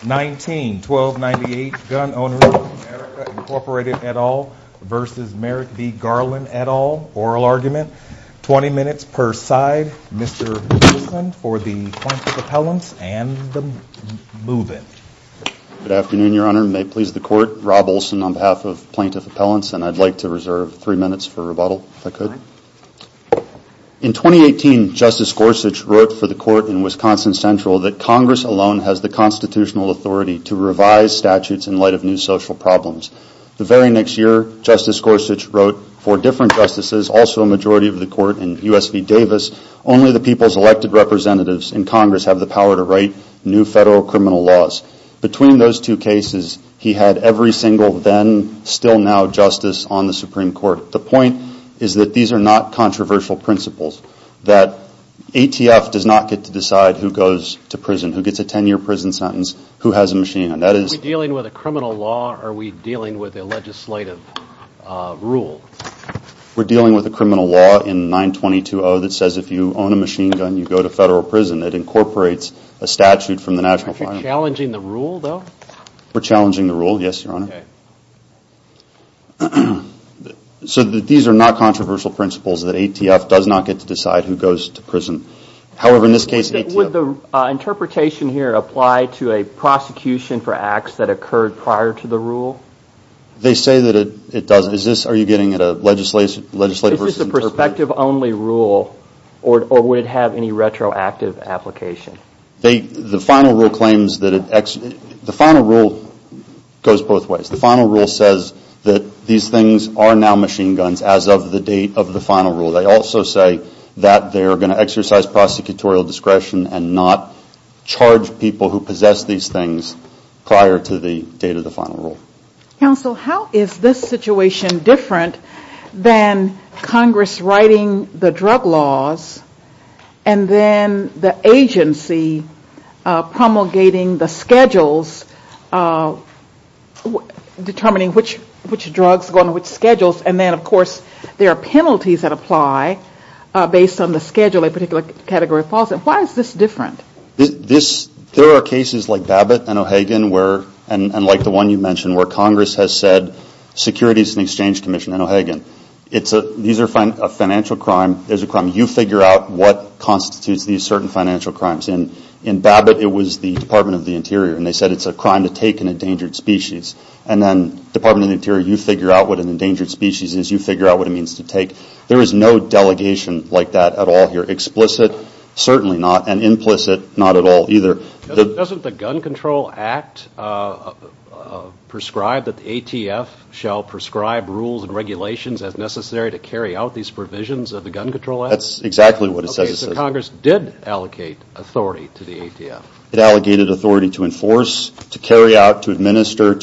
19-1298 Gun Owners of America, Inc. et al. v. Merrick v. Garland et al. Oral Argument, 20 minutes per side. Mr. Olson for the plaintiff appellants and the move-in. Good afternoon, Your Honor. May it please the Court, Rob Olson on behalf of plaintiff appellants, and I'd like to reserve three minutes for rebuttal if I could. In 2018, Justice Gorsuch wrote for the Court in Wisconsin Central that Congress alone has the constitutional authority to revise statutes in light of new social problems. The very next year, Justice Gorsuch wrote for different justices, also a majority of the Court in U.S. v. Davis, only the people's elected representatives in Congress have the power to write new federal criminal laws. Between those two cases, he had every single then, still now, justice on the Supreme Court. The point is that these are not controversial principles, that ATF does not get to decide who goes to prison, who gets a 10-year prison sentence, who has a machine gun. That is... Are we dealing with a criminal law or are we dealing with a legislative rule? We're dealing with a criminal law in 922-0 that says if you own a machine gun, you go to federal prison. It incorporates a statute from the National Fire... Are you challenging the rule, though? We're challenging the rule, yes, Your Honor. Okay. So that these are not controversial principles, that ATF does not get to decide who goes to prison. However, in this case, ATF... Would the interpretation here apply to a prosecution for acts that occurred prior to the rule? They say that it does. Is this... Are you getting at a legislative... Is this a perspective-only rule or would it have any retroactive application? The final rule claims that... The final rule goes both ways. The final rule says that these things are now machine guns as of the date of the final rule. They also say that they are going to exercise prosecutorial discretion and not charge people who possess these things prior to the date of the final rule. Counsel, how is this situation different than Congress writing the drug laws and then the agency promulgating the schedules determining which drugs go on which schedules and then, of course, there are penalties that apply based on the schedule of a particular category of policy? Why is this different? There are cases like Babbitt and O'Hagan where... And like the one you mentioned where Congress has said, Securities and Exchange Commission and O'Hagan. These are financial crime. There's a crime. You figure out what constitutes these certain financial crimes. In Babbitt, it was the Department of the Interior and they said it's a crime to take an endangered species. And then Department of the Interior, you figure out what an endangered species is. You figure out what it means to take. There is no delegation like that at all here. Explicit, certainly not. And implicit, not at all either. Doesn't the Gun Control Act prescribe that the ATF shall prescribe rules and regulations as necessary to carry out these provisions of the Gun Control Act? That's exactly what it says. Okay, so Congress did allocate authority to the ATF. It allocated authority to enforce, to carry out, to administer,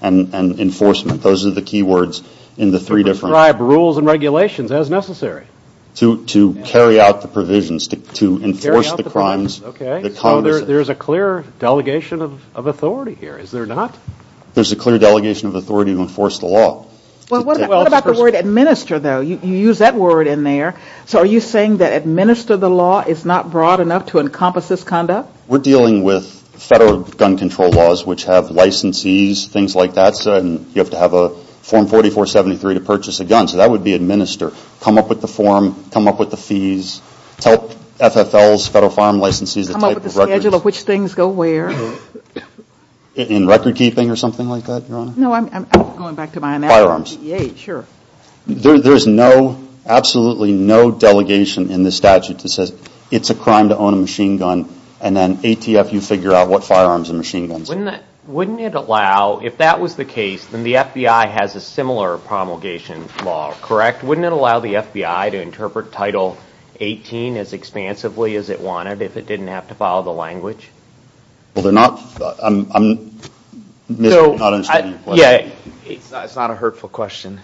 and enforcement. Those are the key words in the three different... Describe rules and regulations as necessary. To carry out the provisions, to enforce the crimes that Congress... There's a clear delegation of authority here, is there not? There's a clear delegation of authority to enforce the law. What about the word administer, though? You use that word in there. So are you saying that administer the law is not broad enough to encompass this conduct? We're dealing with federal gun control laws, which have licensees, things like that. So you have to have a Form 4473 to purchase a gun. So that would be administer. Come up with the form, come up with the fees, tell FFLs, Federal Firearm Licensees, the type of the schedule of which things go where. In record keeping or something like that, Your Honor? No, I'm going back to my analysis. Firearms. Yeah, sure. There's no, absolutely no delegation in the statute that says it's a crime to own a machine gun, and then ATF, you figure out what firearms and machine guns. Wouldn't it allow, if that was the case, then the FBI has a similar promulgation law, correct? Wouldn't it allow the FBI to interpret Title 18 as expansively as it wanted if it didn't have to follow the language? Well, they're not, I'm, I'm, Mr., I'm not understanding your question. Yeah, it's not a hurtful question.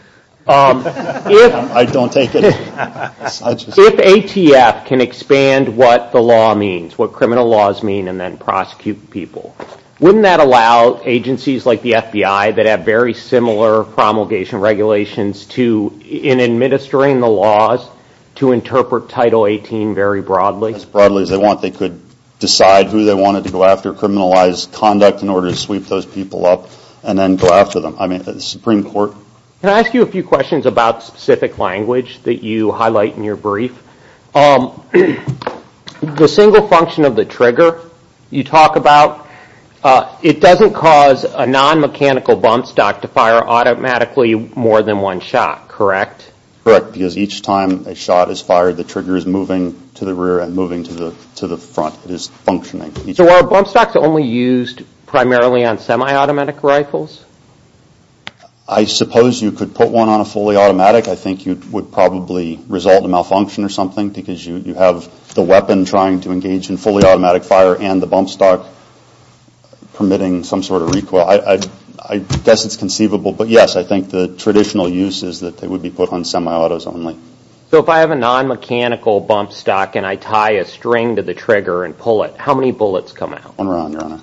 I don't take it. If ATF can expand what the law means, what criminal laws mean, and then prosecute people, wouldn't that allow agencies like the FBI that have very similar promulgation regulations to, in administering the laws, to interpret Title 18 very broadly? As broadly as they want. They could decide who they wanted to go after, criminalize conduct in order to sweep those people up, and then go after them. I mean, the Supreme Court. Can I ask you a few questions about specific language that you highlight in your brief? The single function of the trigger you talk about, it doesn't cause a non-mechanical bump stock to fire automatically more than one shot, correct? Correct. Because each time a shot is fired, the trigger is moving to the rear and moving to the, to the front. It is functioning. So are bump stocks only used primarily on semi-automatic rifles? I suppose you could put one on a fully automatic. I think you would probably result in a malfunction or something, because you, you have the weapon trying to engage in fully automatic fire, and the bump stock permitting some sort of recoil. I, I, I guess it's conceivable, but yes, I think the traditional use is that they would be put on semi-autos only. So if I have a non-mechanical bump stock and I tie a string to the trigger and pull it, how many bullets come out? One round, Your Honor.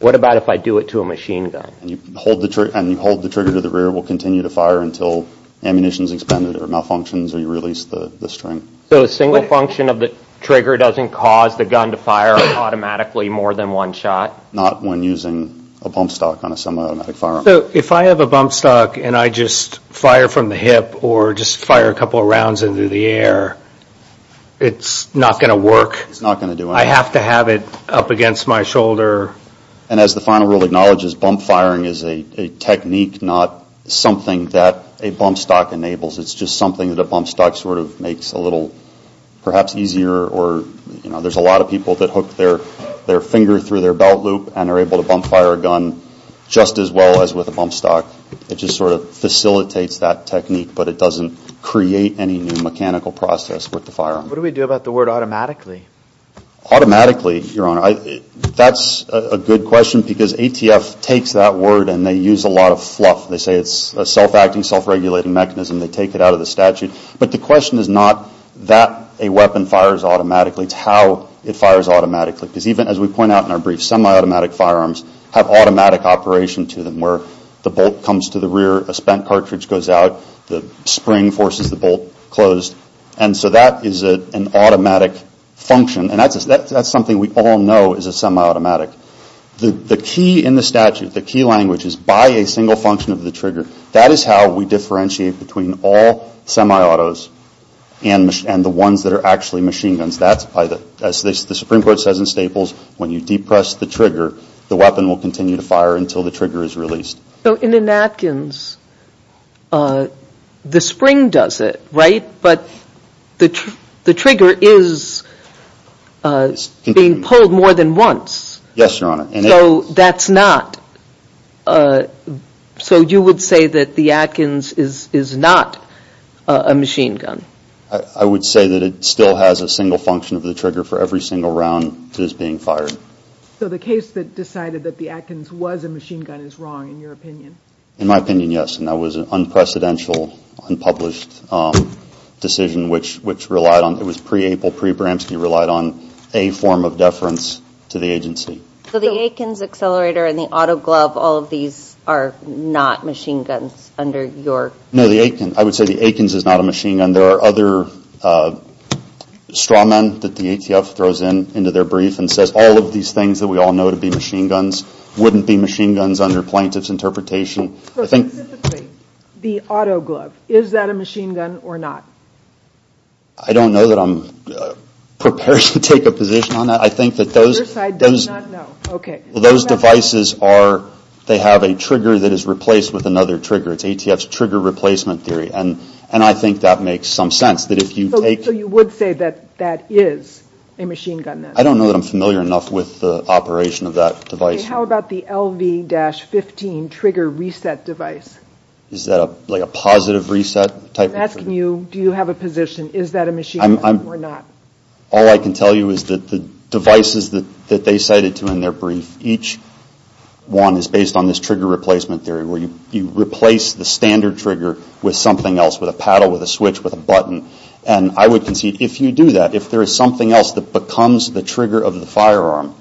What about if I do it to a machine gun? You hold the trigger, and you hold the trigger to the rear, it will continue to fire until ammunition is expended or malfunctions or you release the, the string. So a single function of the trigger doesn't cause the gun to fire automatically more than one shot? Not when using a bump stock on a semi-automatic firearm. If I have a bump stock and I just fire from the hip or just fire a couple of rounds into the air, it's not going to work? It's not going to do anything. I have to have it up against my shoulder? And as the final rule acknowledges, bump firing is a, a technique, not something that a bump stock enables. It's just something that a bump stock sort of makes a little perhaps easier or, you know, there's a lot of people that hook their, their finger through their belt loop and are able to bump fire a gun just as well as with a bump stock. It just sort of facilitates that technique, but it doesn't create any new mechanical process with the firearm. What do we do about the word automatically? Automatically, Your Honor, I, that's a good question because ATF takes that word and they use a lot of fluff. They say it's a self-acting, self-regulating mechanism. They take it out of the statute. But the question is not that a weapon fires automatically, it's how it fires automatically. Because even, as we point out in our brief, semi-automatic firearms have automatic operation to them where the bolt comes to the rear, a spent cartridge goes out, the spring forces the bolt closed. And so that is an automatic function and that's, that's something we all know is a semi-automatic. The key in the statute, the key language is by a single function of the trigger. That is how we differentiate between all semi-autos and the ones that are actually machine guns. That's by the, as the Supreme Court says in Staples, when you depress the trigger, the weapon will continue to fire until the trigger is released. So in an Atkins, the spring does it, right? But the trigger is being pulled more than once. Yes, Your Honor. So that's not, so you would say that the Atkins is not a machine gun? I would say that it still has a single function of the trigger for every single round that is being fired. So the case that decided that the Atkins was a machine gun is wrong, in your opinion? In my opinion, yes. And that was an unprecedented, unpublished decision which, which relied on, it was pre-April, pre-Bramski, relied on a form of deference to the agency. So the Atkins accelerator and the auto glove, all of these are not machine guns under your... No, the Atkins, I would say the Atkins is not a machine gun. And there are other straw men that the ATF throws into their brief and says all of these things that we all know to be machine guns wouldn't be machine guns under plaintiff's interpretation. So specifically, the auto glove, is that a machine gun or not? I don't know that I'm prepared to take a position on that. I think that those... Your side does not know. Okay. Well, those devices are, they have a trigger that is replaced with another trigger. It's ATF's trigger replacement theory. And, and I think that makes some sense. That if you take... So, so you would say that, that is a machine gun then? I don't know that I'm familiar enough with the operation of that device. How about the LV-15 trigger reset device? Is that a, like a positive reset type of trigger? I'm asking you, do you have a position? Is that a machine gun or not? All I can tell you is that the devices that, that they cited to in their brief, each one is based on this trigger replacement theory where you, you replace the standard trigger with something else, with a paddle, with a switch, with a button. And I would concede, if you do that, if there is something else that becomes the trigger of the firearm,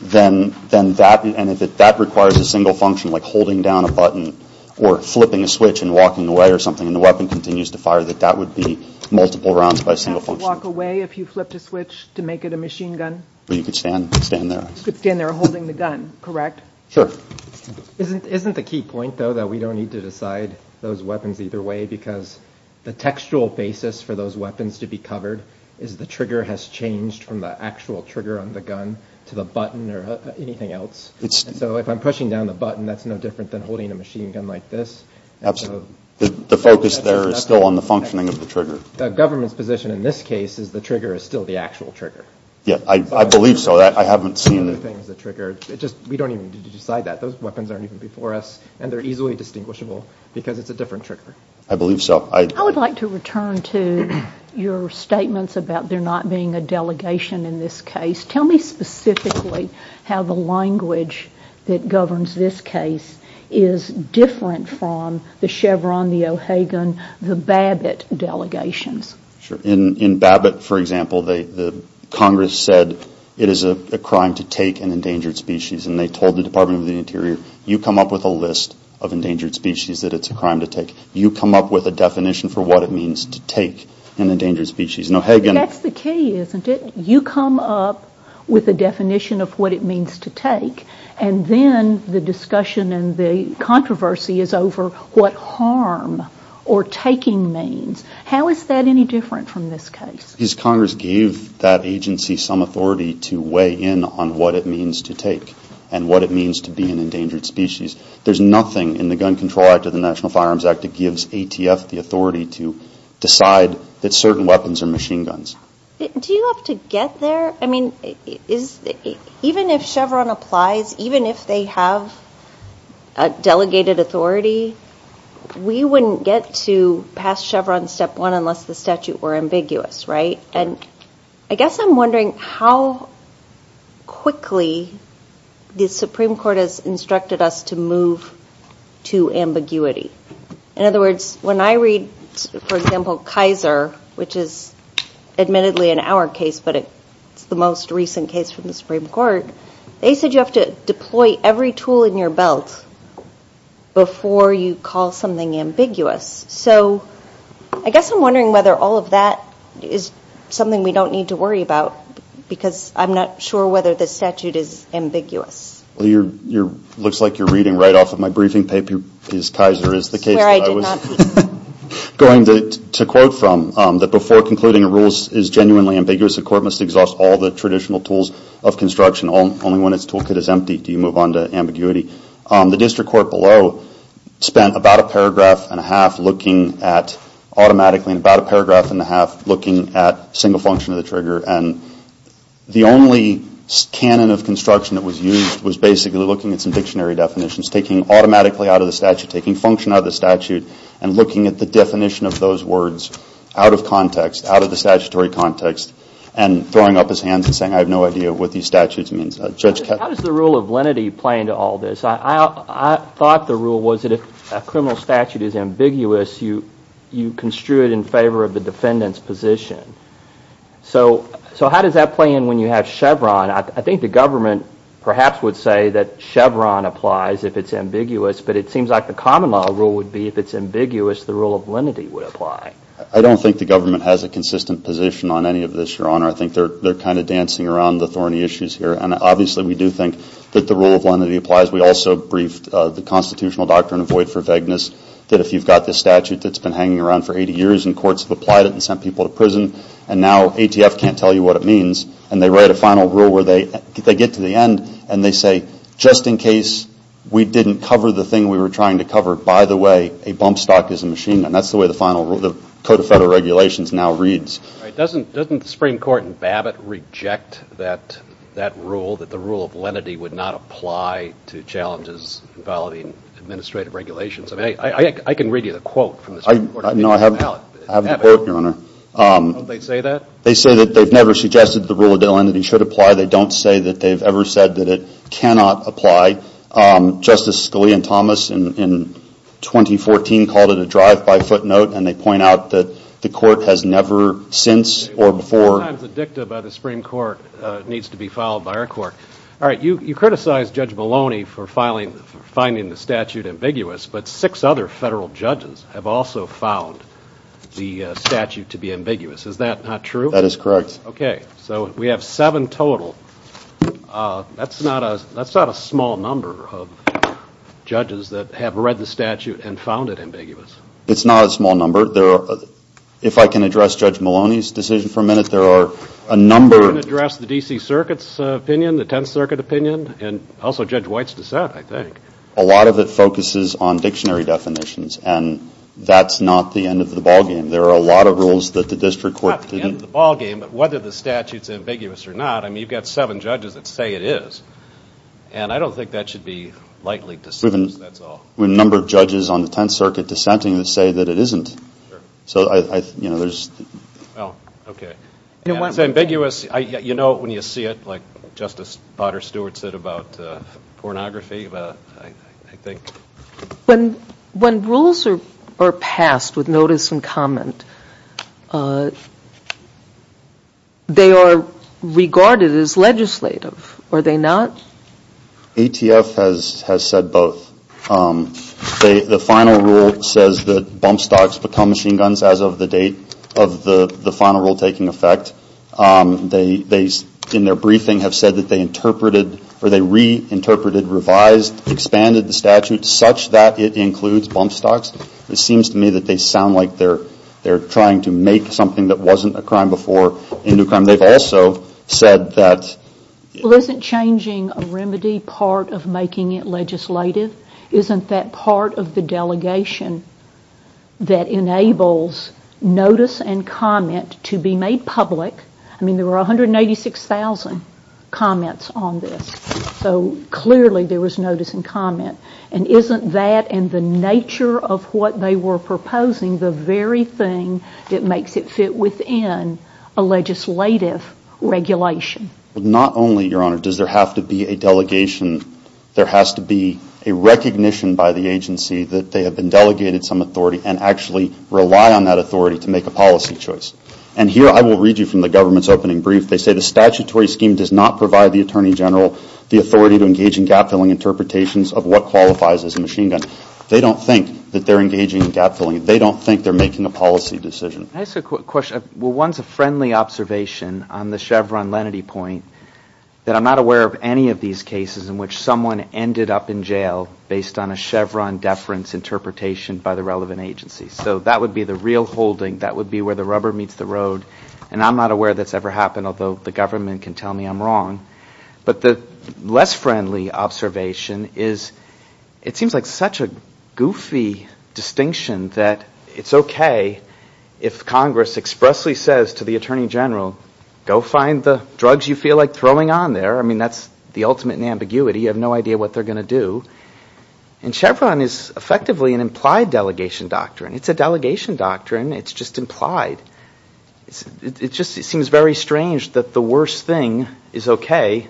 then, then that, and if it, that requires a single function, like holding down a button or flipping a switch and walking away or something, and the weapon continues to fire, that that would be multiple rounds by a single function. You have to walk away if you flipped a switch to make it a machine gun? Well, you could stand, stand there. You could stand there holding the gun, correct? Sure. Isn't, isn't the key point though that we don't need to decide those weapons either way because the textual basis for those weapons to be covered is the trigger has changed from the actual trigger on the gun to the button or anything else. So, if I'm pushing down the button, that's no different than holding a machine gun like this. Absolutely. The focus there is still on the functioning of the trigger. The government's position in this case is the trigger is still the actual trigger. Yeah, I, I believe so. I haven't seen. I haven't seen other things that trigger. It just, we don't even need to decide that. Those weapons aren't even before us and they're easily distinguishable because it's a different trigger. I believe so. I, I would like to return to your statements about there not being a delegation in this case. Tell me specifically how the language that governs this case is different from the Chevron, the O'Hagan, the Babbitt delegations. Sure. In, in Babbitt, for example, they, the Congress said it is a crime to take an endangered species and they told the Department of the Interior, you come up with a list of endangered species that it's a crime to take. You come up with a definition for what it means to take an endangered species. O'Hagan. That's the key, isn't it? You come up with a definition of what it means to take and then the discussion and the controversy is over what harm or taking means. How is that any different from this case? Because Congress gave that agency some authority to weigh in on what it means to take and what it means to be an endangered species. There's nothing in the Gun Control Act or the National Firearms Act that gives ATF the authority to decide that certain weapons are machine guns. Do you have to get there? I mean, is, even if Chevron applies, even if they have a delegated authority, we wouldn't get to pass Chevron step one unless the statute were ambiguous, right? And I guess I'm wondering how quickly the Supreme Court has instructed us to move to ambiguity. In other words, when I read, for example, Kaiser, which is admittedly in our case, but it's the most recent case from the Supreme Court, they said you have to deploy every tool in your belt before you call something ambiguous. So I guess I'm wondering whether all of that is something we don't need to worry about because I'm not sure whether the statute is ambiguous. Well, it looks like you're reading right off of my briefing paper, is Kaiser is the case that I was going to quote from, that before concluding a rule is genuinely ambiguous, the court must exhaust all the traditional tools of construction only when its toolkit is empty. Do you move on to ambiguity? The district court below spent about a paragraph and a half looking at, automatically, about a paragraph and a half looking at single function of the trigger and the only canon of construction that was used was basically looking at some dictionary definitions, taking automatically out of the statute, taking function out of the statute, and looking at the definition of those words out of context, out of the statutory context, and throwing up his hands and saying I have no idea what these statutes mean. How does the rule of lenity play into all this? I thought the rule was that if a criminal statute is ambiguous, you construe it in favor of the defendant's position. So how does that play in when you have Chevron? I think the government, perhaps, would say that Chevron applies if it's ambiguous, but it seems like the common law rule would be if it's ambiguous, the rule of lenity would apply. I don't think the government has a consistent position on any of this, Your Honor. I think they're kind of dancing around the thorny issues here. And obviously, we do think that the rule of lenity applies. We also briefed the constitutional doctrine of void for vagueness that if you've got this statute that's been hanging around for 80 years and courts have applied it and sent people to prison, and now ATF can't tell you what it means, and they write a final rule where they get to the end and they say, just in case we didn't cover the thing we were trying to cover, by the way, a bump stock is a machine, and that's the way the final rule, the Code of Federal Regulations now reads. Doesn't the Supreme Court in Babbitt reject that rule, that the rule of lenity would not apply to challenges involving administrative regulations? I mean, I can read you the quote from the Supreme Court. No, I have the quote, Your Honor. Don't they say that? They say that they've never suggested the rule of lenity should apply. They don't say that they've ever said that it cannot apply. Justice Scalia and Thomas, in 2014, called it a drive-by footnote, and they point out that the Court has never since or before... Sometimes a dicta by the Supreme Court needs to be followed by our Court. All right, you criticized Judge Maloney for finding the statute ambiguous, but six other federal judges have also found the statute to be ambiguous. Is that not true? That is correct. Okay, so we have seven total. That's not a small number of judges that have read the statute and found it ambiguous. It's not a small number. If I can address Judge Maloney's decision for a minute, there are a number... I can address the D.C. Circuit's opinion, the Tenth Circuit opinion, and also Judge White's dissent, I think. A lot of it focuses on dictionary definitions, and that's not the end of the ballgame. There are a lot of rules that the District Court... It's not the end of the ballgame, but whether the statute's ambiguous or not, I mean, you've got seven judges that say it is, and I don't think that should be lightly dismissed, that's all. There are a number of judges on the Tenth Circuit dissenting that say that it isn't. So there's... Oh, okay. It's ambiguous. You know it when you see it, like Justice Potter Stewart said about pornography, I think. When rules are passed with notice and comment, they are regarded as legislative, are they not? ATF has said both. The final rule says that bump stocks become machine guns as of the date of the final rule taking effect. In their briefing have said that they interpreted, or they reinterpreted, revised, expanded the statute such that it includes bump stocks. It seems to me that they sound like they're trying to make something that wasn't a crime before into a crime. They've also said that... Well, isn't changing a remedy part of making it legislative? Isn't that part of the delegation that enables notice and comment to be made public? I mean, there were 186,000 comments on this, so clearly there was notice and comment. And isn't that, and the nature of what they were proposing, the very thing that makes it fit within a legislative regulation? Not only, Your Honor, does there have to be a delegation, there has to be a recognition by the agency that they have been delegated some authority and actually rely on that authority to make a policy choice. And here I will read you from the government's opening brief. They say the statutory scheme does not provide the Attorney General the authority to engage in gap-filling interpretations of what qualifies as a machine gun. They don't think that they're engaging in gap-filling. They don't think they're making a policy decision. Can I ask a question? Well, one's a friendly observation on the Chevron-Lenaty point that I'm not aware of any of these cases in which someone ended up in jail based on a Chevron-deference interpretation by the relevant agency. So that would be the real holding. That would be where the rubber meets the road. And I'm not aware that's ever happened, although the government can tell me I'm wrong. But the less friendly observation is, it seems like such a goofy distinction that it's okay if Congress expressly says to the Attorney General, go find the drugs you feel like throwing on there. I mean, that's the ultimate in ambiguity. You have no idea what they're going to do. And Chevron is effectively an implied delegation doctrine. It's a delegation doctrine. It's just implied. It just seems very strange that the worst thing is okay,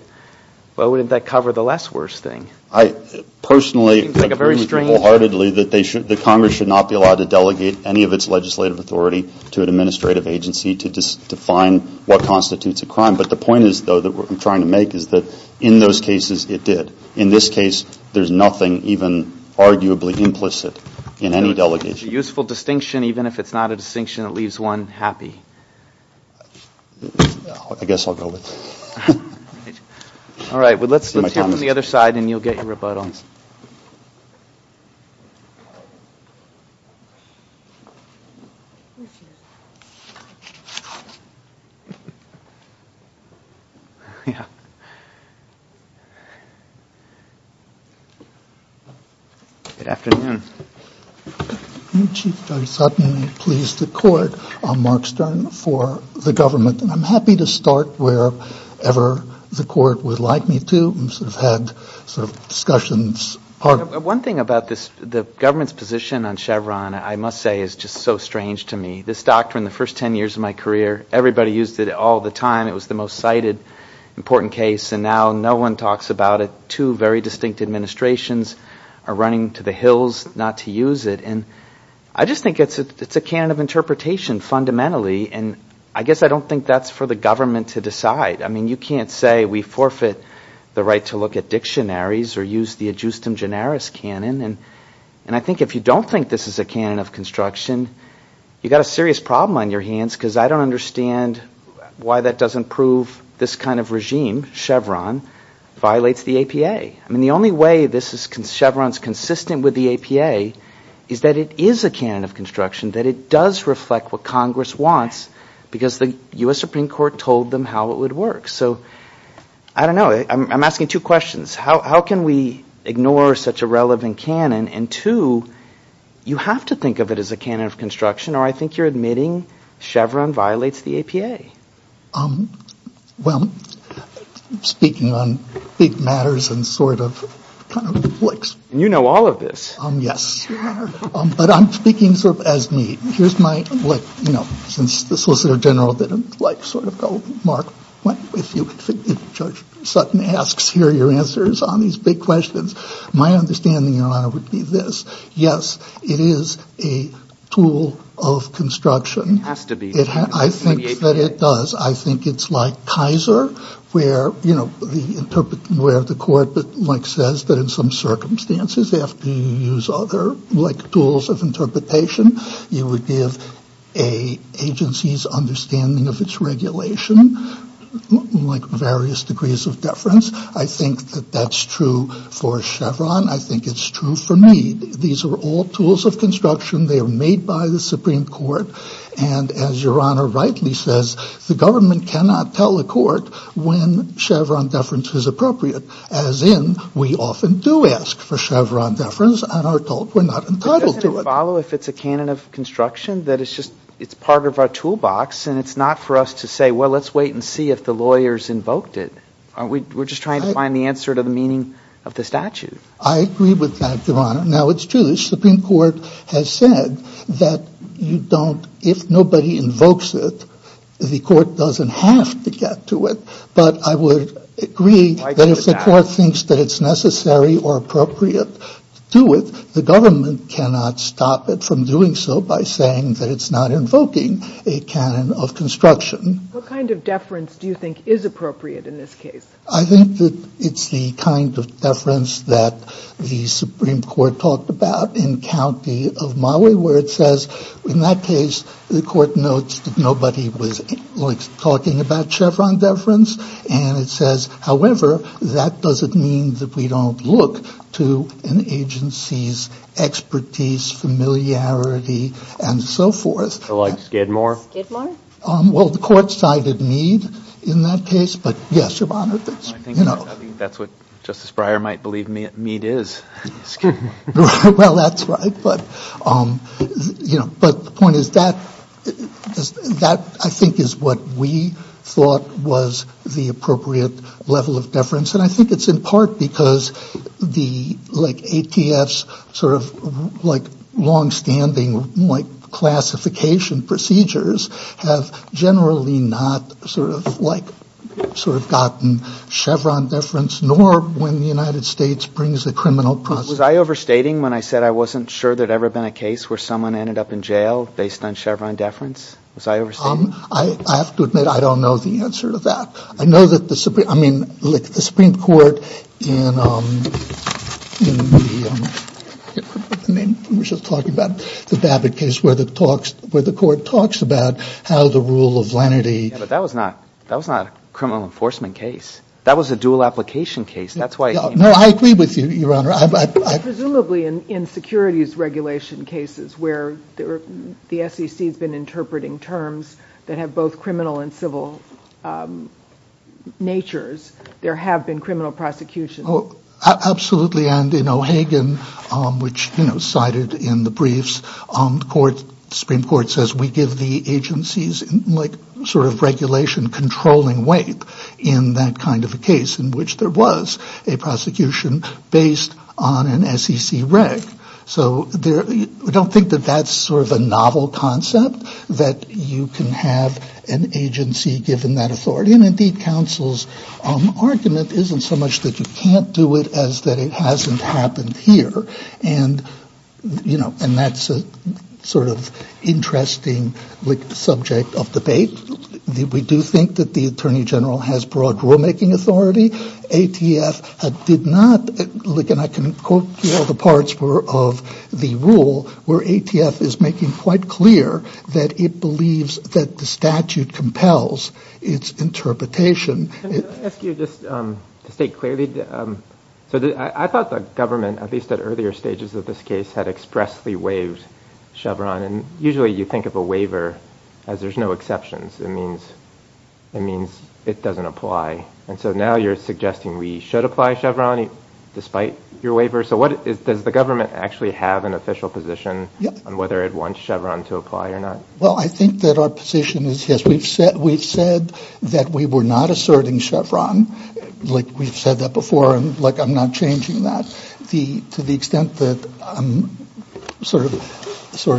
but wouldn't that cover the less worst thing? It seems like a very strange... I personally agree wholeheartedly that Congress should not be allowed to delegate any of its legislative authority to an administrative agency to define what constitutes a crime. But the point is, though, that I'm trying to make is that in those cases, it did. In this case, there's nothing even arguably implicit in any delegation. It's a useful distinction, even if it's not a distinction that leaves one happy. I guess I'll go with it. All right. Let's hear from the other side, and you'll get your rebuttals. Good afternoon. Chief Judge Sutton, I'm pleased to court. I'm Mark Stern for the government, and I'm happy to start wherever the court would like me to. One thing about the government's position on Chevron, I must say, is just so strange to me. This doctrine, the first 10 years of my career, everybody used it all the time. It was the most cited important case, and now no one talks about it. Two very distinct administrations are running to the hills not to use it. I just think it's a canon of interpretation fundamentally, and I guess I don't think that's for the government to decide. You can't say we forfeit the right to look at dictionaries or use the adjustum generis canon. I think if you don't think this is a canon of construction, you've got a serious problem on your hands because I don't understand why that doesn't prove this kind of regime, Chevron, violates the APA. The only way Chevron's consistent with the APA is that it is a canon of construction, that it does reflect what Congress wants because the U.S. Supreme Court told them how it would work. So, I don't know. I'm asking two questions. How can we ignore such a relevant canon, and two, you have to think of it as a canon of construction or I think you're admitting Chevron violates the APA. Well, speaking on big matters and sort of kind of blips. You know all of this. Yes. Sure. But I'm speaking sort of as me. Here's my, you know, since the Solicitor General didn't like sort of go, Mark, if Judge Sutton asks here your answers on these big questions, my understanding, Your Honor, would be this. Yes, it is a tool of construction. It has to be. I think that it does. I think it's like Kaiser where, you know, the court says that in some circumstances after you use other like tools of interpretation, you would give a agency's understanding of its regulation like various degrees of deference. I think that that's true for Chevron. I think it's true for me. These are all tools of construction. They are made by the Supreme Court. And as Your Honor rightly says, the government cannot tell a court when Chevron deference is appropriate. As in, we often do ask for Chevron deference and are told we're not entitled to it. But doesn't it follow if it's a canon of construction that it's just, it's part of our toolbox and it's not for us to say, well, let's wait and see if the lawyers invoked it. We're just trying to find the answer to the meaning of the statute. I agree with that, Your Honor. Now it's true. The Supreme Court has said that you don't, if nobody invokes it, the court doesn't have to get to it. But I would agree that if the court thinks that it's necessary or appropriate to do it, the government cannot stop it from doing so by saying that it's not invoking a canon of construction. What kind of deference do you think is appropriate in this case? I think that it's the kind of deference that the Supreme Court talked about in County of Maui where it says, in that case, the court notes that nobody was talking about Chevron deference. And it says, however, that doesn't mean that we don't look to an agency's expertise, familiarity, and so forth. So like Skidmore? Skidmore? Well, the court cited Meade in that case. But yes, Your Honor, that's, you know. I think that's what Justice Breyer might believe Meade is. Skidmore. Well, that's right. But, you know, but the point is that I think is what we thought was the appropriate level of deference. And I think it's in part because the like ATF's sort of like longstanding like classification procedures have generally not sort of like sort of gotten Chevron deference, nor when the United States brings the criminal process. Was I overstating when I said I wasn't sure there'd ever been a case where someone ended up in jail based on Chevron deference? Was I overstating? I have to admit I don't know the answer to that. I know that the Supreme, I mean, like the Supreme Court in the, I mean, we were just talking about the Babbitt case where the talks, where the court talks about how the rule of lenity. Yeah, but that was not, that was not a criminal enforcement case. That was a dual application case. That's why it came up. No, I agree with you, Your Honor. Presumably in securities regulation cases where the SEC has been interpreting terms that have both criminal and civil natures, there have been criminal prosecutions. Absolutely. And in O'Hagan, which, you know, cited in the briefs, the Supreme Court says we give the agencies like sort of regulation controlling weight in that kind of a case in which there was a prosecution based on an SEC reg. So I don't think that that's sort of a novel concept that you can have an agency given that authority. And indeed, counsel's argument isn't so much that you can't do it as that it hasn't happened here. And, you know, and that's a sort of interesting subject of debate. We do think that the Attorney General has broad rulemaking authority. ATF did not, and I can quote all the parts of the rule where ATF is making quite clear that it believes that the statute compels its interpretation. Can I ask you just to state clearly, so I thought the government, at least at earlier stages of this case, had expressly waived Chevron. And usually you think of a waiver as there's no exceptions. It means it doesn't apply. And so now you're suggesting we should apply Chevron despite your waiver. So what is, does the government actually have an official position on whether it wants Chevron to apply or not? Well, I think that our position is, yes, we've said that we were not asserting Chevron, like we've said that before, and like I'm not changing that. To the extent that I'm sort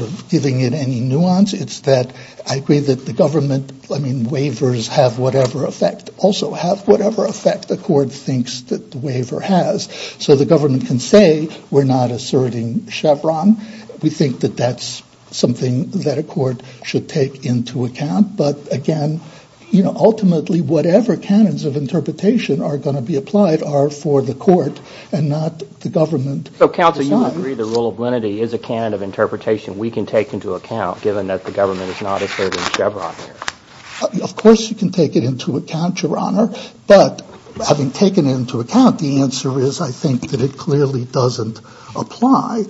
of giving it any nuance, it's that I agree that the government, I mean, waivers have whatever effect, also have whatever effect the court thinks that the waiver has. So the government can say we're not asserting Chevron. We think that that's something that a court should take into account. But again, you know, ultimately whatever canons of interpretation are going to be applied are for the court and not the government. So counsel, you agree the rule of lenity is a canon of interpretation we can take into account given that the government is not asserting Chevron here? Of course you can take it into account, Your Honor. But having taken it into account, the answer is, I think, that it clearly doesn't apply.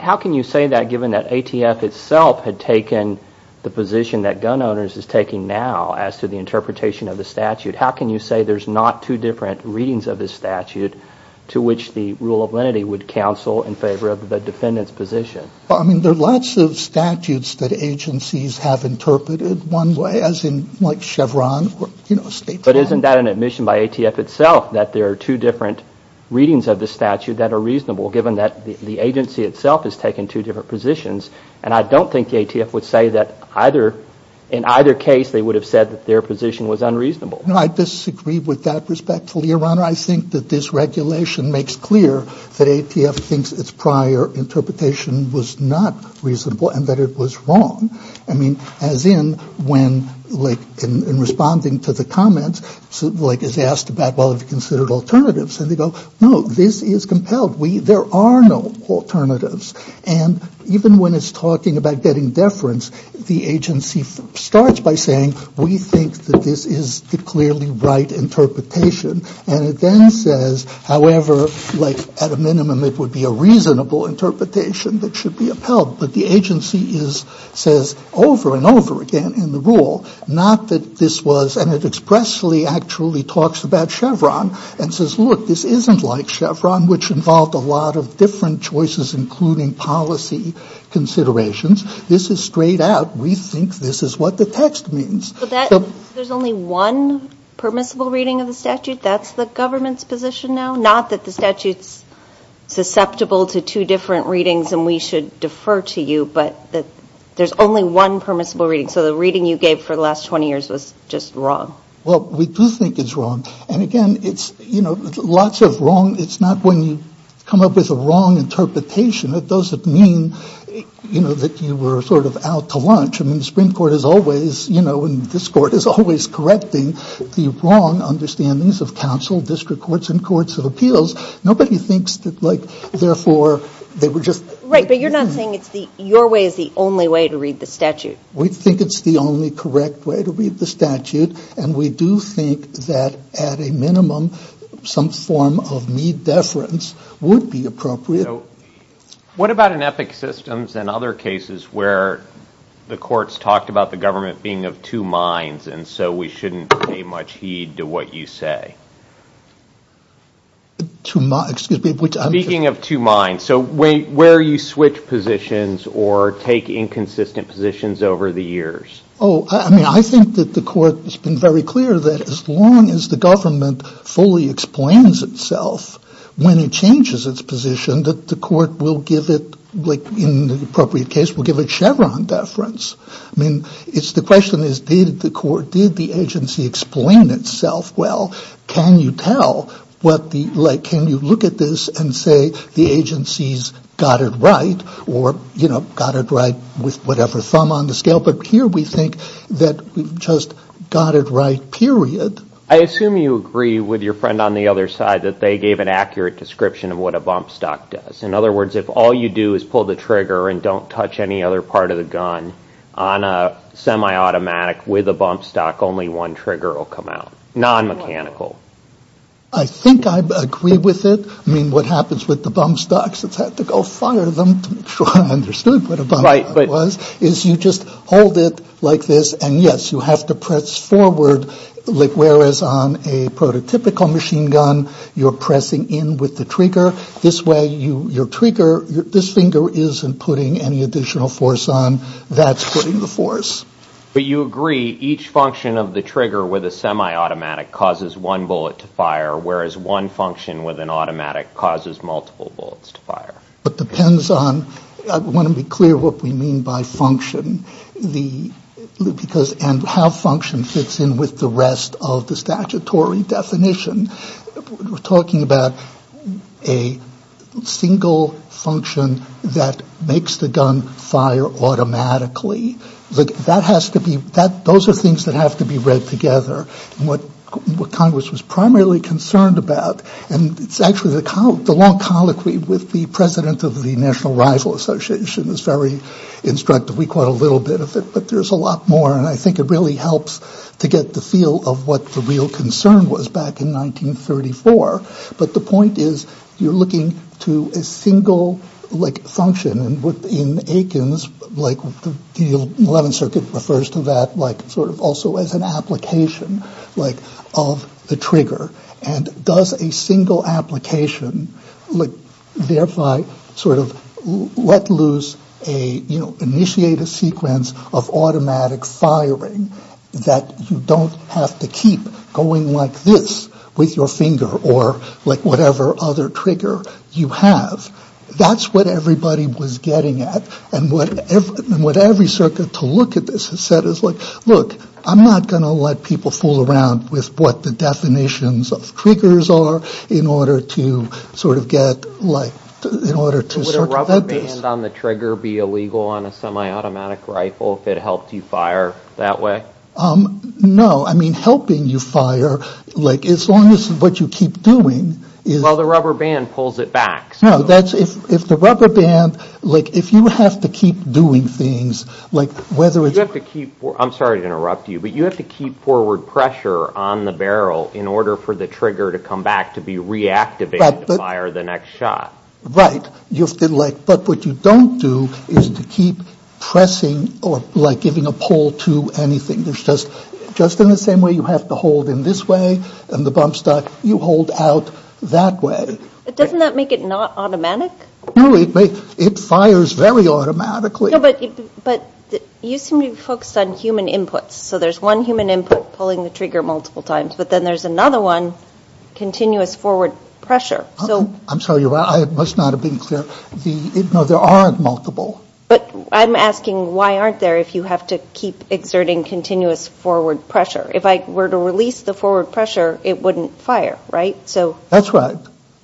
How can you say that given that ATF itself had taken the position that gun owners is taking now as to the interpretation of the statute? How can you say there's not two different readings of the statute to which the rule of lenity would counsel in favor of the defendant's position? Well, I mean, there are lots of statutes that agencies have interpreted one way, as in like Chevron or, you know, state trial. But isn't that an admission by ATF itself that there are two different readings of the statute that are reasonable given that the agency itself has taken two different positions? And I don't think the ATF would say that either, in either case they would have said that their position was unreasonable. No, I disagree with that respectfully, Your Honor. I think that this regulation makes clear that ATF thinks its prior interpretation was not reasonable and that it was wrong. I mean, as in when, like, in responding to the comments, like, it's asked about, well, have you considered alternatives? And they go, no, this is compelled. There are no alternatives. And even when it's talking about getting deference, the agency starts by saying, we think that this is the clearly right interpretation. And it then says, however, like, at a minimum, it would be a reasonable interpretation that should be upheld. But the agency is, says over and over again in the rule, not that this was, and it expressly actually talks about Chevron and says, look, this isn't like Chevron, which involved a lot of different choices, including policy considerations. This is straight out, we think this is what the text means. So that, there's only one permissible reading of the statute? That's the government's position now? Not that the statute's susceptible to two different readings and we should defer to you, but that there's only one permissible reading? So the reading you gave for the last 20 years was just wrong? Well, we do think it's wrong. And again, it's, you know, lots of wrong, it's not when you come up with a wrong interpretation, it doesn't mean, you know, that you were sort of out to lunch. I mean, the Supreme Court is always, you know, and this Court is always correcting the wrong understandings of counsel, district courts, and courts of appeals. Nobody thinks that, like, therefore, they were just. Right. But you're not saying it's the, your way is the only way to read the statute? We think it's the only correct way to read the statute. And we do think that at a minimum, some form of need deference would be appropriate. So what about in ethic systems and other cases where the courts talked about the government being of two minds, and so we shouldn't pay much heed to what you say? To my, excuse me. Speaking of two minds, so where you switch positions or take inconsistent positions over the years? Oh, I mean, I think that the court has been very clear that as long as the government fully explains itself, when it changes its position, that the court will give it, like, in the appropriate case, will give it Chevron deference. I mean, it's the question is, did the court, did the agency explain itself well? Can you tell what the, like, can you look at this and say the agency's got it right or, you know, got it right with whatever thumb on the scale? But here we think that we've just got it right, period. I assume you agree with your friend on the other side that they gave an accurate description of what a bump stock does. In other words, if all you do is pull the trigger and don't touch any other part of the gun on a semi-automatic with a bump stock, only one trigger will come out, non-mechanical. I think I agree with it. I mean, what happens with the bump stocks, it's had to go fire them to make sure I understood what a bump stock was, is you just hold it like this, and yes, you have to press forward whereas on a prototypical machine gun, you're pressing in with the trigger. This way, your trigger, this finger isn't putting any additional force on. That's putting the force. But you agree each function of the trigger with a semi-automatic causes one bullet to fire, whereas one function with an automatic causes multiple bullets to fire. It depends on, I want to be clear what we mean by function. And how function fits in with the rest of the statutory definition. We're talking about a single function that makes the gun fire automatically. Those are things that have to be read together. What Congress was primarily concerned about, and it's actually the long colloquy with the president of the National Rifle Association is very instructive. We caught a little bit of it, but there's a lot more, and I think it really helps to get the feel of what the real concern was back in 1934. But the point is, you're looking to a single function, and in Aikens, the 11th Circuit refers to that also as an application of the trigger. And does a single application thereby sort of let loose, initiate a sequence of automatic firing that you don't have to keep going like this with your finger or like whatever other trigger you have. That's what everybody was getting at. And what every circuit to look at this has said is, look, I'm not going to let people fool around with what the definitions of triggers are in order to sort of get, like, in order to sort of... Would a rubber band on the trigger be illegal on a semi-automatic rifle if it helped you fire that way? No. I mean, helping you fire, like, as long as what you keep doing is... Well, the rubber band pulls it back. No. If the rubber band, like, if you have to keep doing things, like, whether it's... You have to keep... I'm sorry to interrupt you, but you have to keep forward pressure on the barrel in order for the trigger to come back to be reactivated to fire the next shot. Right. You have to, like... But what you don't do is to keep pressing or, like, giving a pull to anything. There's just... Just in the same way you have to hold in this way and the bump stop, you hold out that way. Doesn't that make it not automatic? No. It fires very automatically. No, but you seem to be focused on human inputs. So there's one human input pulling the trigger multiple times, but then there's another one, continuous forward pressure. I'm sorry. I must not have been clear. No, there are multiple. But I'm asking why aren't there if you have to keep exerting continuous forward pressure? If I were to release the forward pressure, it wouldn't fire, right? That's right.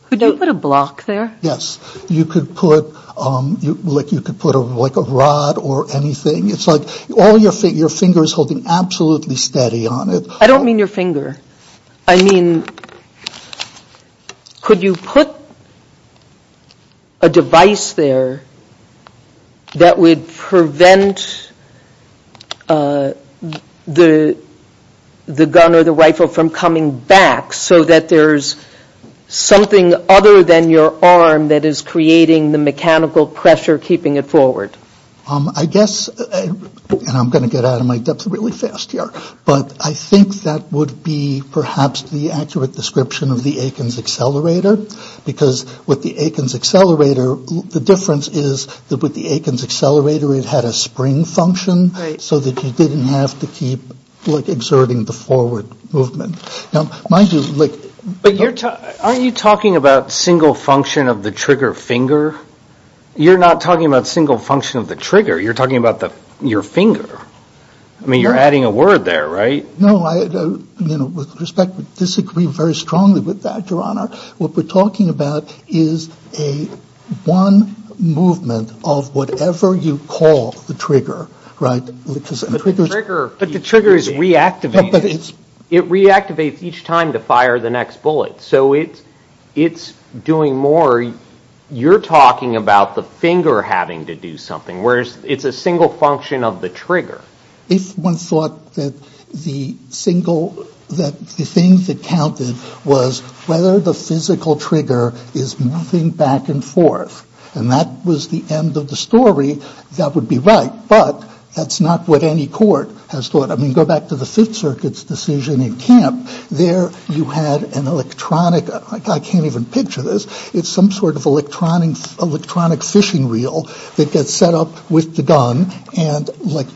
Could you put a block there? Yes. You could put, like, a rod or anything. It's like all your finger is holding absolutely steady on it. I don't mean your finger. I mean, could you put a device there that would prevent the gun or the rifle from coming back so that there's something other than your arm that is creating the mechanical pressure keeping it forward? I guess, and I'm going to get out of my depth really fast here, but I think that would be perhaps the accurate description of the Aikens accelerator because with the Aikens accelerator, the difference is that with the Aikens accelerator, it had a spring function so that you didn't have to keep, like, exerting the forward movement. But aren't you talking about single function of the trigger finger? You're not talking about single function of the trigger. You're talking about your finger. I mean, you're adding a word there, right? No. With respect, I disagree very strongly with that, Your Honor. What we're talking about is a one movement of whatever you call the trigger, right? But the trigger is reactivating. It reactivates each time to fire the next bullet. So it's doing more. You're talking about the finger having to do something, whereas it's a single function of the trigger. If one thought that the single, that the thing that counted was whether the physical trigger is moving back and forth and that was the end of the story, that would be right, but that's not what any court has thought. I mean, go back to the Fifth Circuit's decision in camp. There you had an electronic, like, I can't even picture this. It's some sort of electronic fishing reel that gets set up with the gun and, like,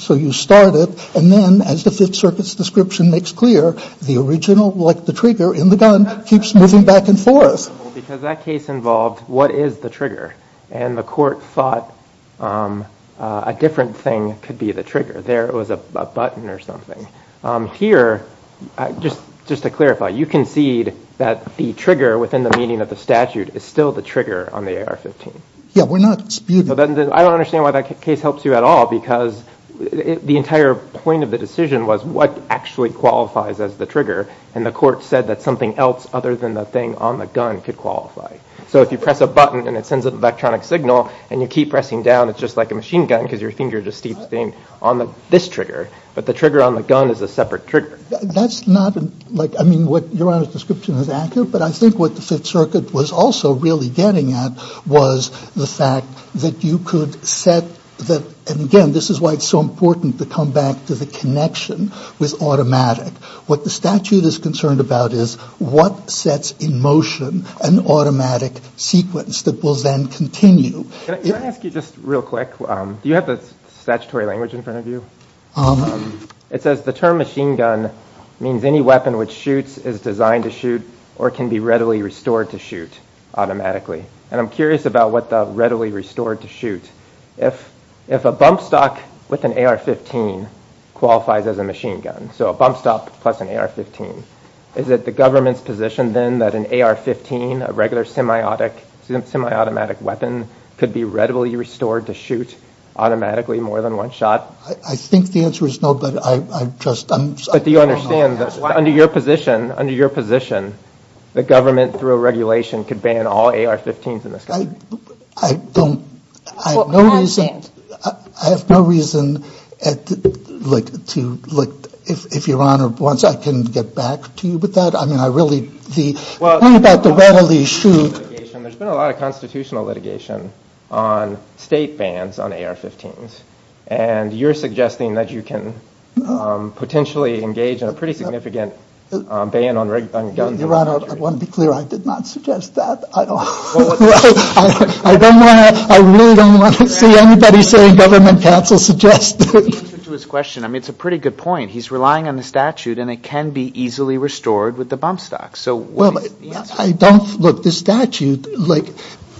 so you start it and then as the Fifth Circuit's description makes clear, the original, like the trigger in the gun, keeps moving back and forth. Because that case involved what is the trigger, and the court thought a different thing could be the trigger. There was a button or something. Here, just to clarify, you concede that the trigger within the meaning of the statute is still the trigger on the AR-15. Yeah, we're not disputing that. I don't understand why that case helps you at all because the entire point of the decision was what actually qualifies as the trigger, and the court said that something else other than the thing on the gun could qualify. So if you press a button and it sends an electronic signal and you keep pressing down, it's just like a machine gun because your finger just keeps staying on this trigger, but the trigger on the gun is a separate trigger. That's not, like, I mean, what Your Honor's description is accurate, but I think what the Fifth Circuit was also really getting at was the fact that you could set the, and again, this is why it's so important to come back to the connection with automatic. What the statute is concerned about is what sets in motion an automatic sequence that will then continue. Can I ask you just real quick, do you have the statutory language in front of you? It says the term machine gun means any weapon which shoots is designed to shoot or can be readily restored to shoot automatically, and I'm curious about what the readily restored to shoot. If a bump stop with an AR-15 qualifies as a machine gun, so a bump stop plus an AR-15, is it the government's position then that an AR-15, a regular semi-automatic weapon, could be readily restored to shoot automatically more than one shot? I think the answer is no, but I just don't know. But do you understand that under your position, the government through a regulation could ban all AR-15s in this country? I have no reason to, if Your Honor wants, I can get back to you with that. I mean, I really, the thing about the readily shoot. There's been a lot of constitutional litigation on state bans on AR-15s, and you're suggesting that you can potentially engage in a pretty significant ban on guns in this country. Your Honor, I want to be clear, I did not suggest that at all. I don't want to, I really don't want to see anybody saying government counsel suggested. To answer to his question, I mean, it's a pretty good point. He's relying on the statute, and it can be easily restored with a bump stop. So what is the answer? I don't, look, the statute, like,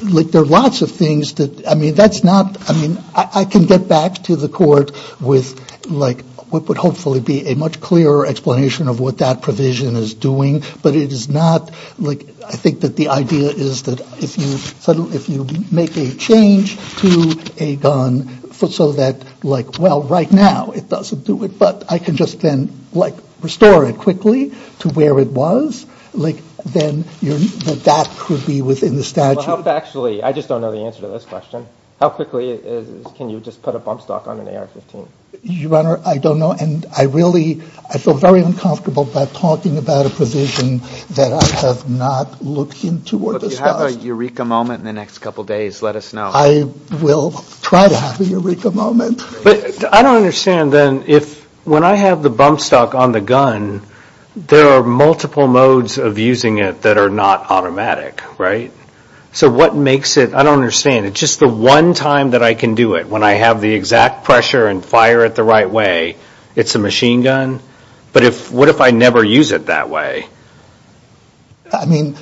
there are lots of things that, I mean, that's not, I mean, I can get back to the court with, like, what would hopefully be a much clearer explanation of what that provision is doing, but it is not, like, I think that the idea is that if you make a change to a gun so that, like, well, right now it doesn't do it, but I can just then, like, restore it quickly to where it was, like, then that could be within the statute. Actually, I just don't know the answer to this question. How quickly can you just put a bump stop on an AR-15? Your Honor, I don't know, and I really, I feel very uncomfortable by talking about a provision that I have not looked into or discussed. If you have a eureka moment in the next couple days, let us know. I will try to have a eureka moment. But I don't understand, then, if, when I have the bump stop on the gun, there are multiple modes of using it that are not automatic, right? So what makes it, I don't understand, it's just the one time that I can do it, when I have the exact pressure and fire it the right way, it's a machine gun? But what if I never use it that way?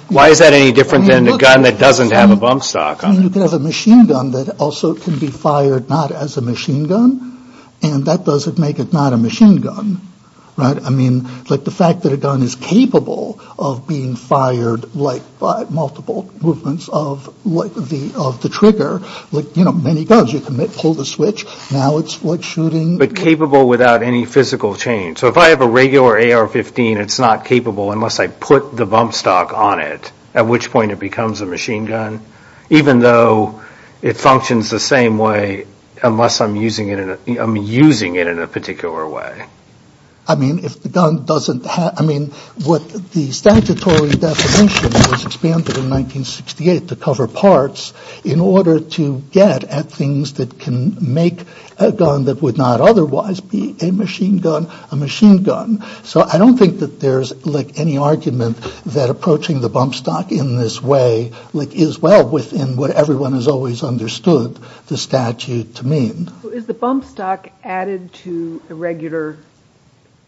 Why is that any different than a gun that doesn't have a bump stop on it? I mean, you could have a machine gun that also can be fired not as a machine gun, and that doesn't make it not a machine gun, right? I mean, like, the fact that a gun is capable of being fired, like, by multiple movements of the trigger, like, you know, many guns, you can pull the switch, now it's, like, shooting. But capable without any physical change. So if I have a regular AR-15, it's not capable unless I put the bump stop on it, at which point it becomes a machine gun, even though it functions the same way unless I'm using it in a particular way. I mean, if the gun doesn't have, I mean, what the statutory definition was expanded in 1968 to cover parts in order to get at things that can make a gun that would not otherwise be a machine gun a machine gun. So I don't think that there's, like, any argument that approaching the bump stop in this way, like, is well within what everyone has always understood the statute to mean. So is the bump stop added to a regular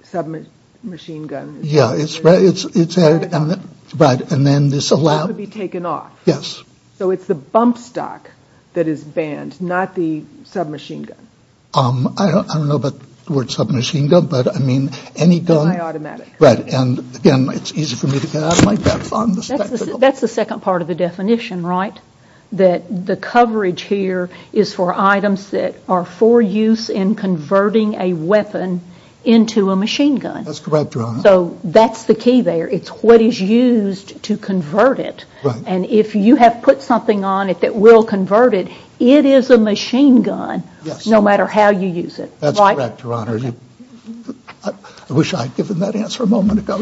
submachine gun? Yeah, it's added. Right, and then this allows... So it's the bump stop that is banned, not the submachine gun. I don't know about the word submachine gun, but, I mean, any gun... Anti-automatic. Right, and, again, it's easy for me to get out of my depth on this technical... That's the second part of the definition, right? That the coverage here is for items that are for use in converting a weapon into a machine gun. That's correct, Your Honor. So that's the key there. It's what is used to convert it. And if you have put something on it that will convert it, it is a machine gun, no matter how you use it. That's correct, Your Honor. I wish I had given that answer a moment ago.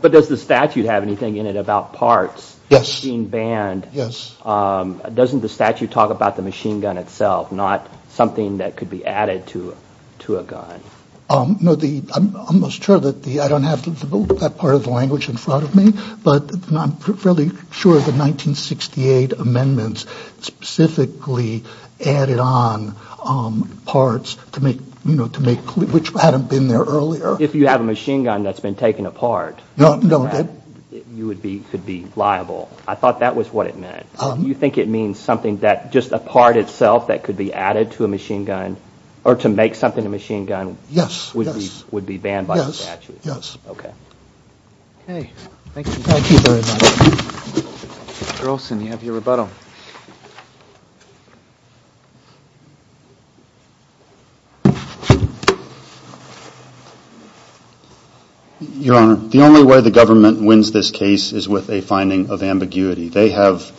But does the statute have anything in it about parts being banned? Yes. Doesn't the statute talk about the machine gun itself, not something that could be added to a gun? No, I'm almost sure that the... I don't have that part of the language in front of me, but I'm fairly sure the 1968 amendments specifically added on parts to make... which hadn't been there earlier. If you have a machine gun that's been taken apart, you could be liable. I thought that was what it meant. Do you think it means something that just a part itself that could be added to a machine gun or to make something a machine gun would be banned by the statute? Yes. Okay. Thank you. Thank you very much. Mr. Olson, you have your rebuttal. Your Honor, the only way the government wins this case is with a finding of ambiguity. They have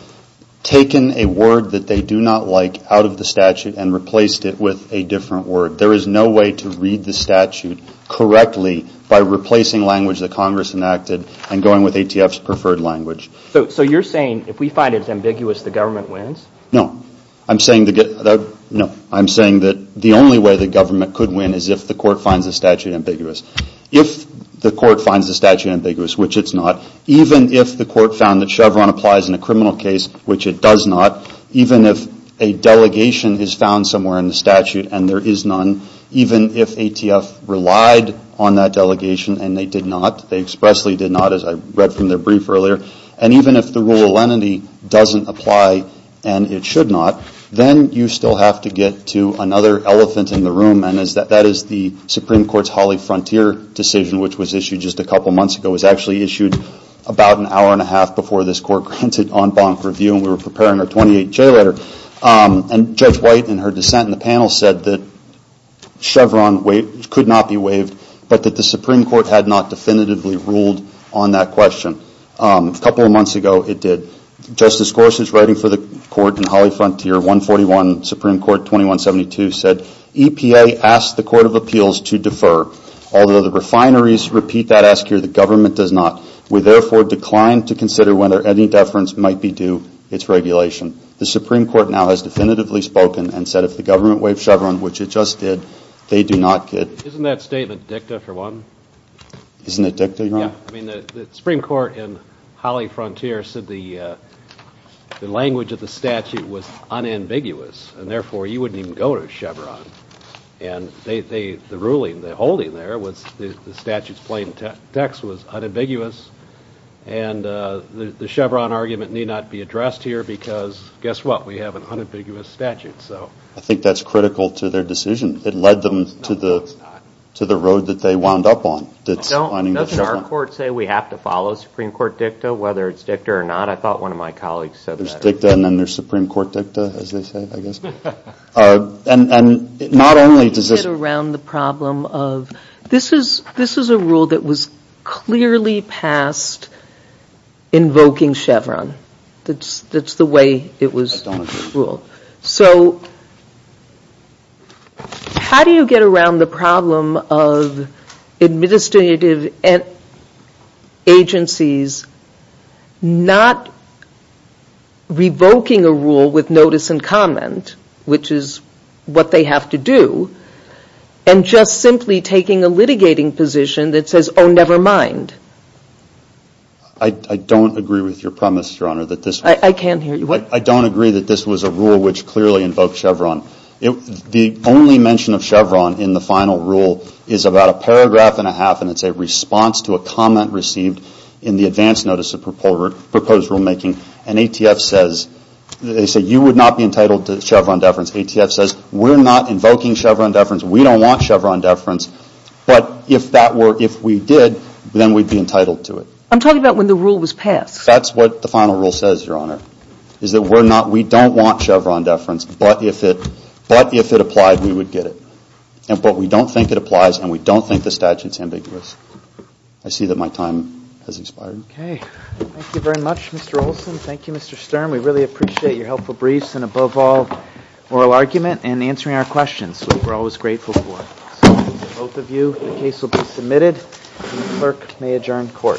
taken a word that they do not like out of the statute and replaced it with a different word. There is no way to read the statute correctly by replacing language that Congress enacted and going with ATF's preferred language. So you're saying if we find it ambiguous, the government wins? No. I'm saying that the only way the government could win is if the court finds the statute ambiguous. If the court finds the statute ambiguous, which it's not, even if the court found that Chevron applies in a criminal case, which it does not, even if a delegation is found somewhere in the statute and there is none, even if ATF relied on that delegation and they did not, they expressly did not, as I read from their brief earlier, and even if the rule of lenity doesn't apply and it should not, then you still have to get to another elephant in the room, and that is the Supreme Court's Holly Frontier decision, which was issued just a couple of months ago. It was actually issued about an hour and a half before this court granted en banc review and we were preparing our 28-J letter, and Judge White in her dissent in the panel said that Chevron could not be waived but that the Supreme Court had not definitively ruled on that question. A couple of months ago it did. Justice Gorsuch, writing for the court in Holly Frontier, 141 Supreme Court 2172, said, EPA asked the Court of Appeals to defer. Although the refineries repeat that ask here, the government does not. We therefore decline to consider whether any deference might be due its regulation. The Supreme Court now has definitively spoken and said if the government waived Chevron, which it just did, they do not get. Isn't that statement dicta for one? Isn't it dicta, Your Honor? The Supreme Court in Holly Frontier said the language of the statute was unambiguous and therefore you wouldn't even go to Chevron. And the ruling, the holding there was the statute's plain text was unambiguous and the Chevron argument need not be addressed here because guess what? We have an unambiguous statute. I think that's critical to their decision. It led them to the road that they wound up on. Doesn't our court say we have to follow Supreme Court dicta whether it's dicta or not? I thought one of my colleagues said that. Yeah, dicta and then there's Supreme Court dicta as they say, I guess. And not only does this How do you get around the problem of this is a rule that was clearly passed invoking Chevron? That's the way it was ruled. So how do you get around the problem of administrative agencies not revoking a rule with notice and comment, which is what they have to do, and just simply taking a litigating position that says, oh, never mind. I don't agree with your premise, Your Honor, that this I can't hear you. I don't agree that this was a rule which clearly invoked Chevron. The only mention of Chevron in the final rule is about a paragraph and a half, and it's a response to a comment received in the advance notice of proposed rulemaking. And ATF says, they say you would not be entitled to Chevron deference. ATF says we're not invoking Chevron deference. We don't want Chevron deference. But if we did, then we'd be entitled to it. I'm talking about when the rule was passed. That's what the final rule says, Your Honor. It's that we don't want Chevron deference, but if it applied, we would get it. But we don't think it applies, and we don't think the statute's ambiguous. I see that my time has expired. Okay. Thank you very much, Mr. Olson. Thank you, Mr. Sturm. We really appreciate your helpful briefs and, above all, oral argument and answering our questions, which we're always grateful for. Both of you, the case will be submitted. The clerk may adjourn court. Court is adjourned.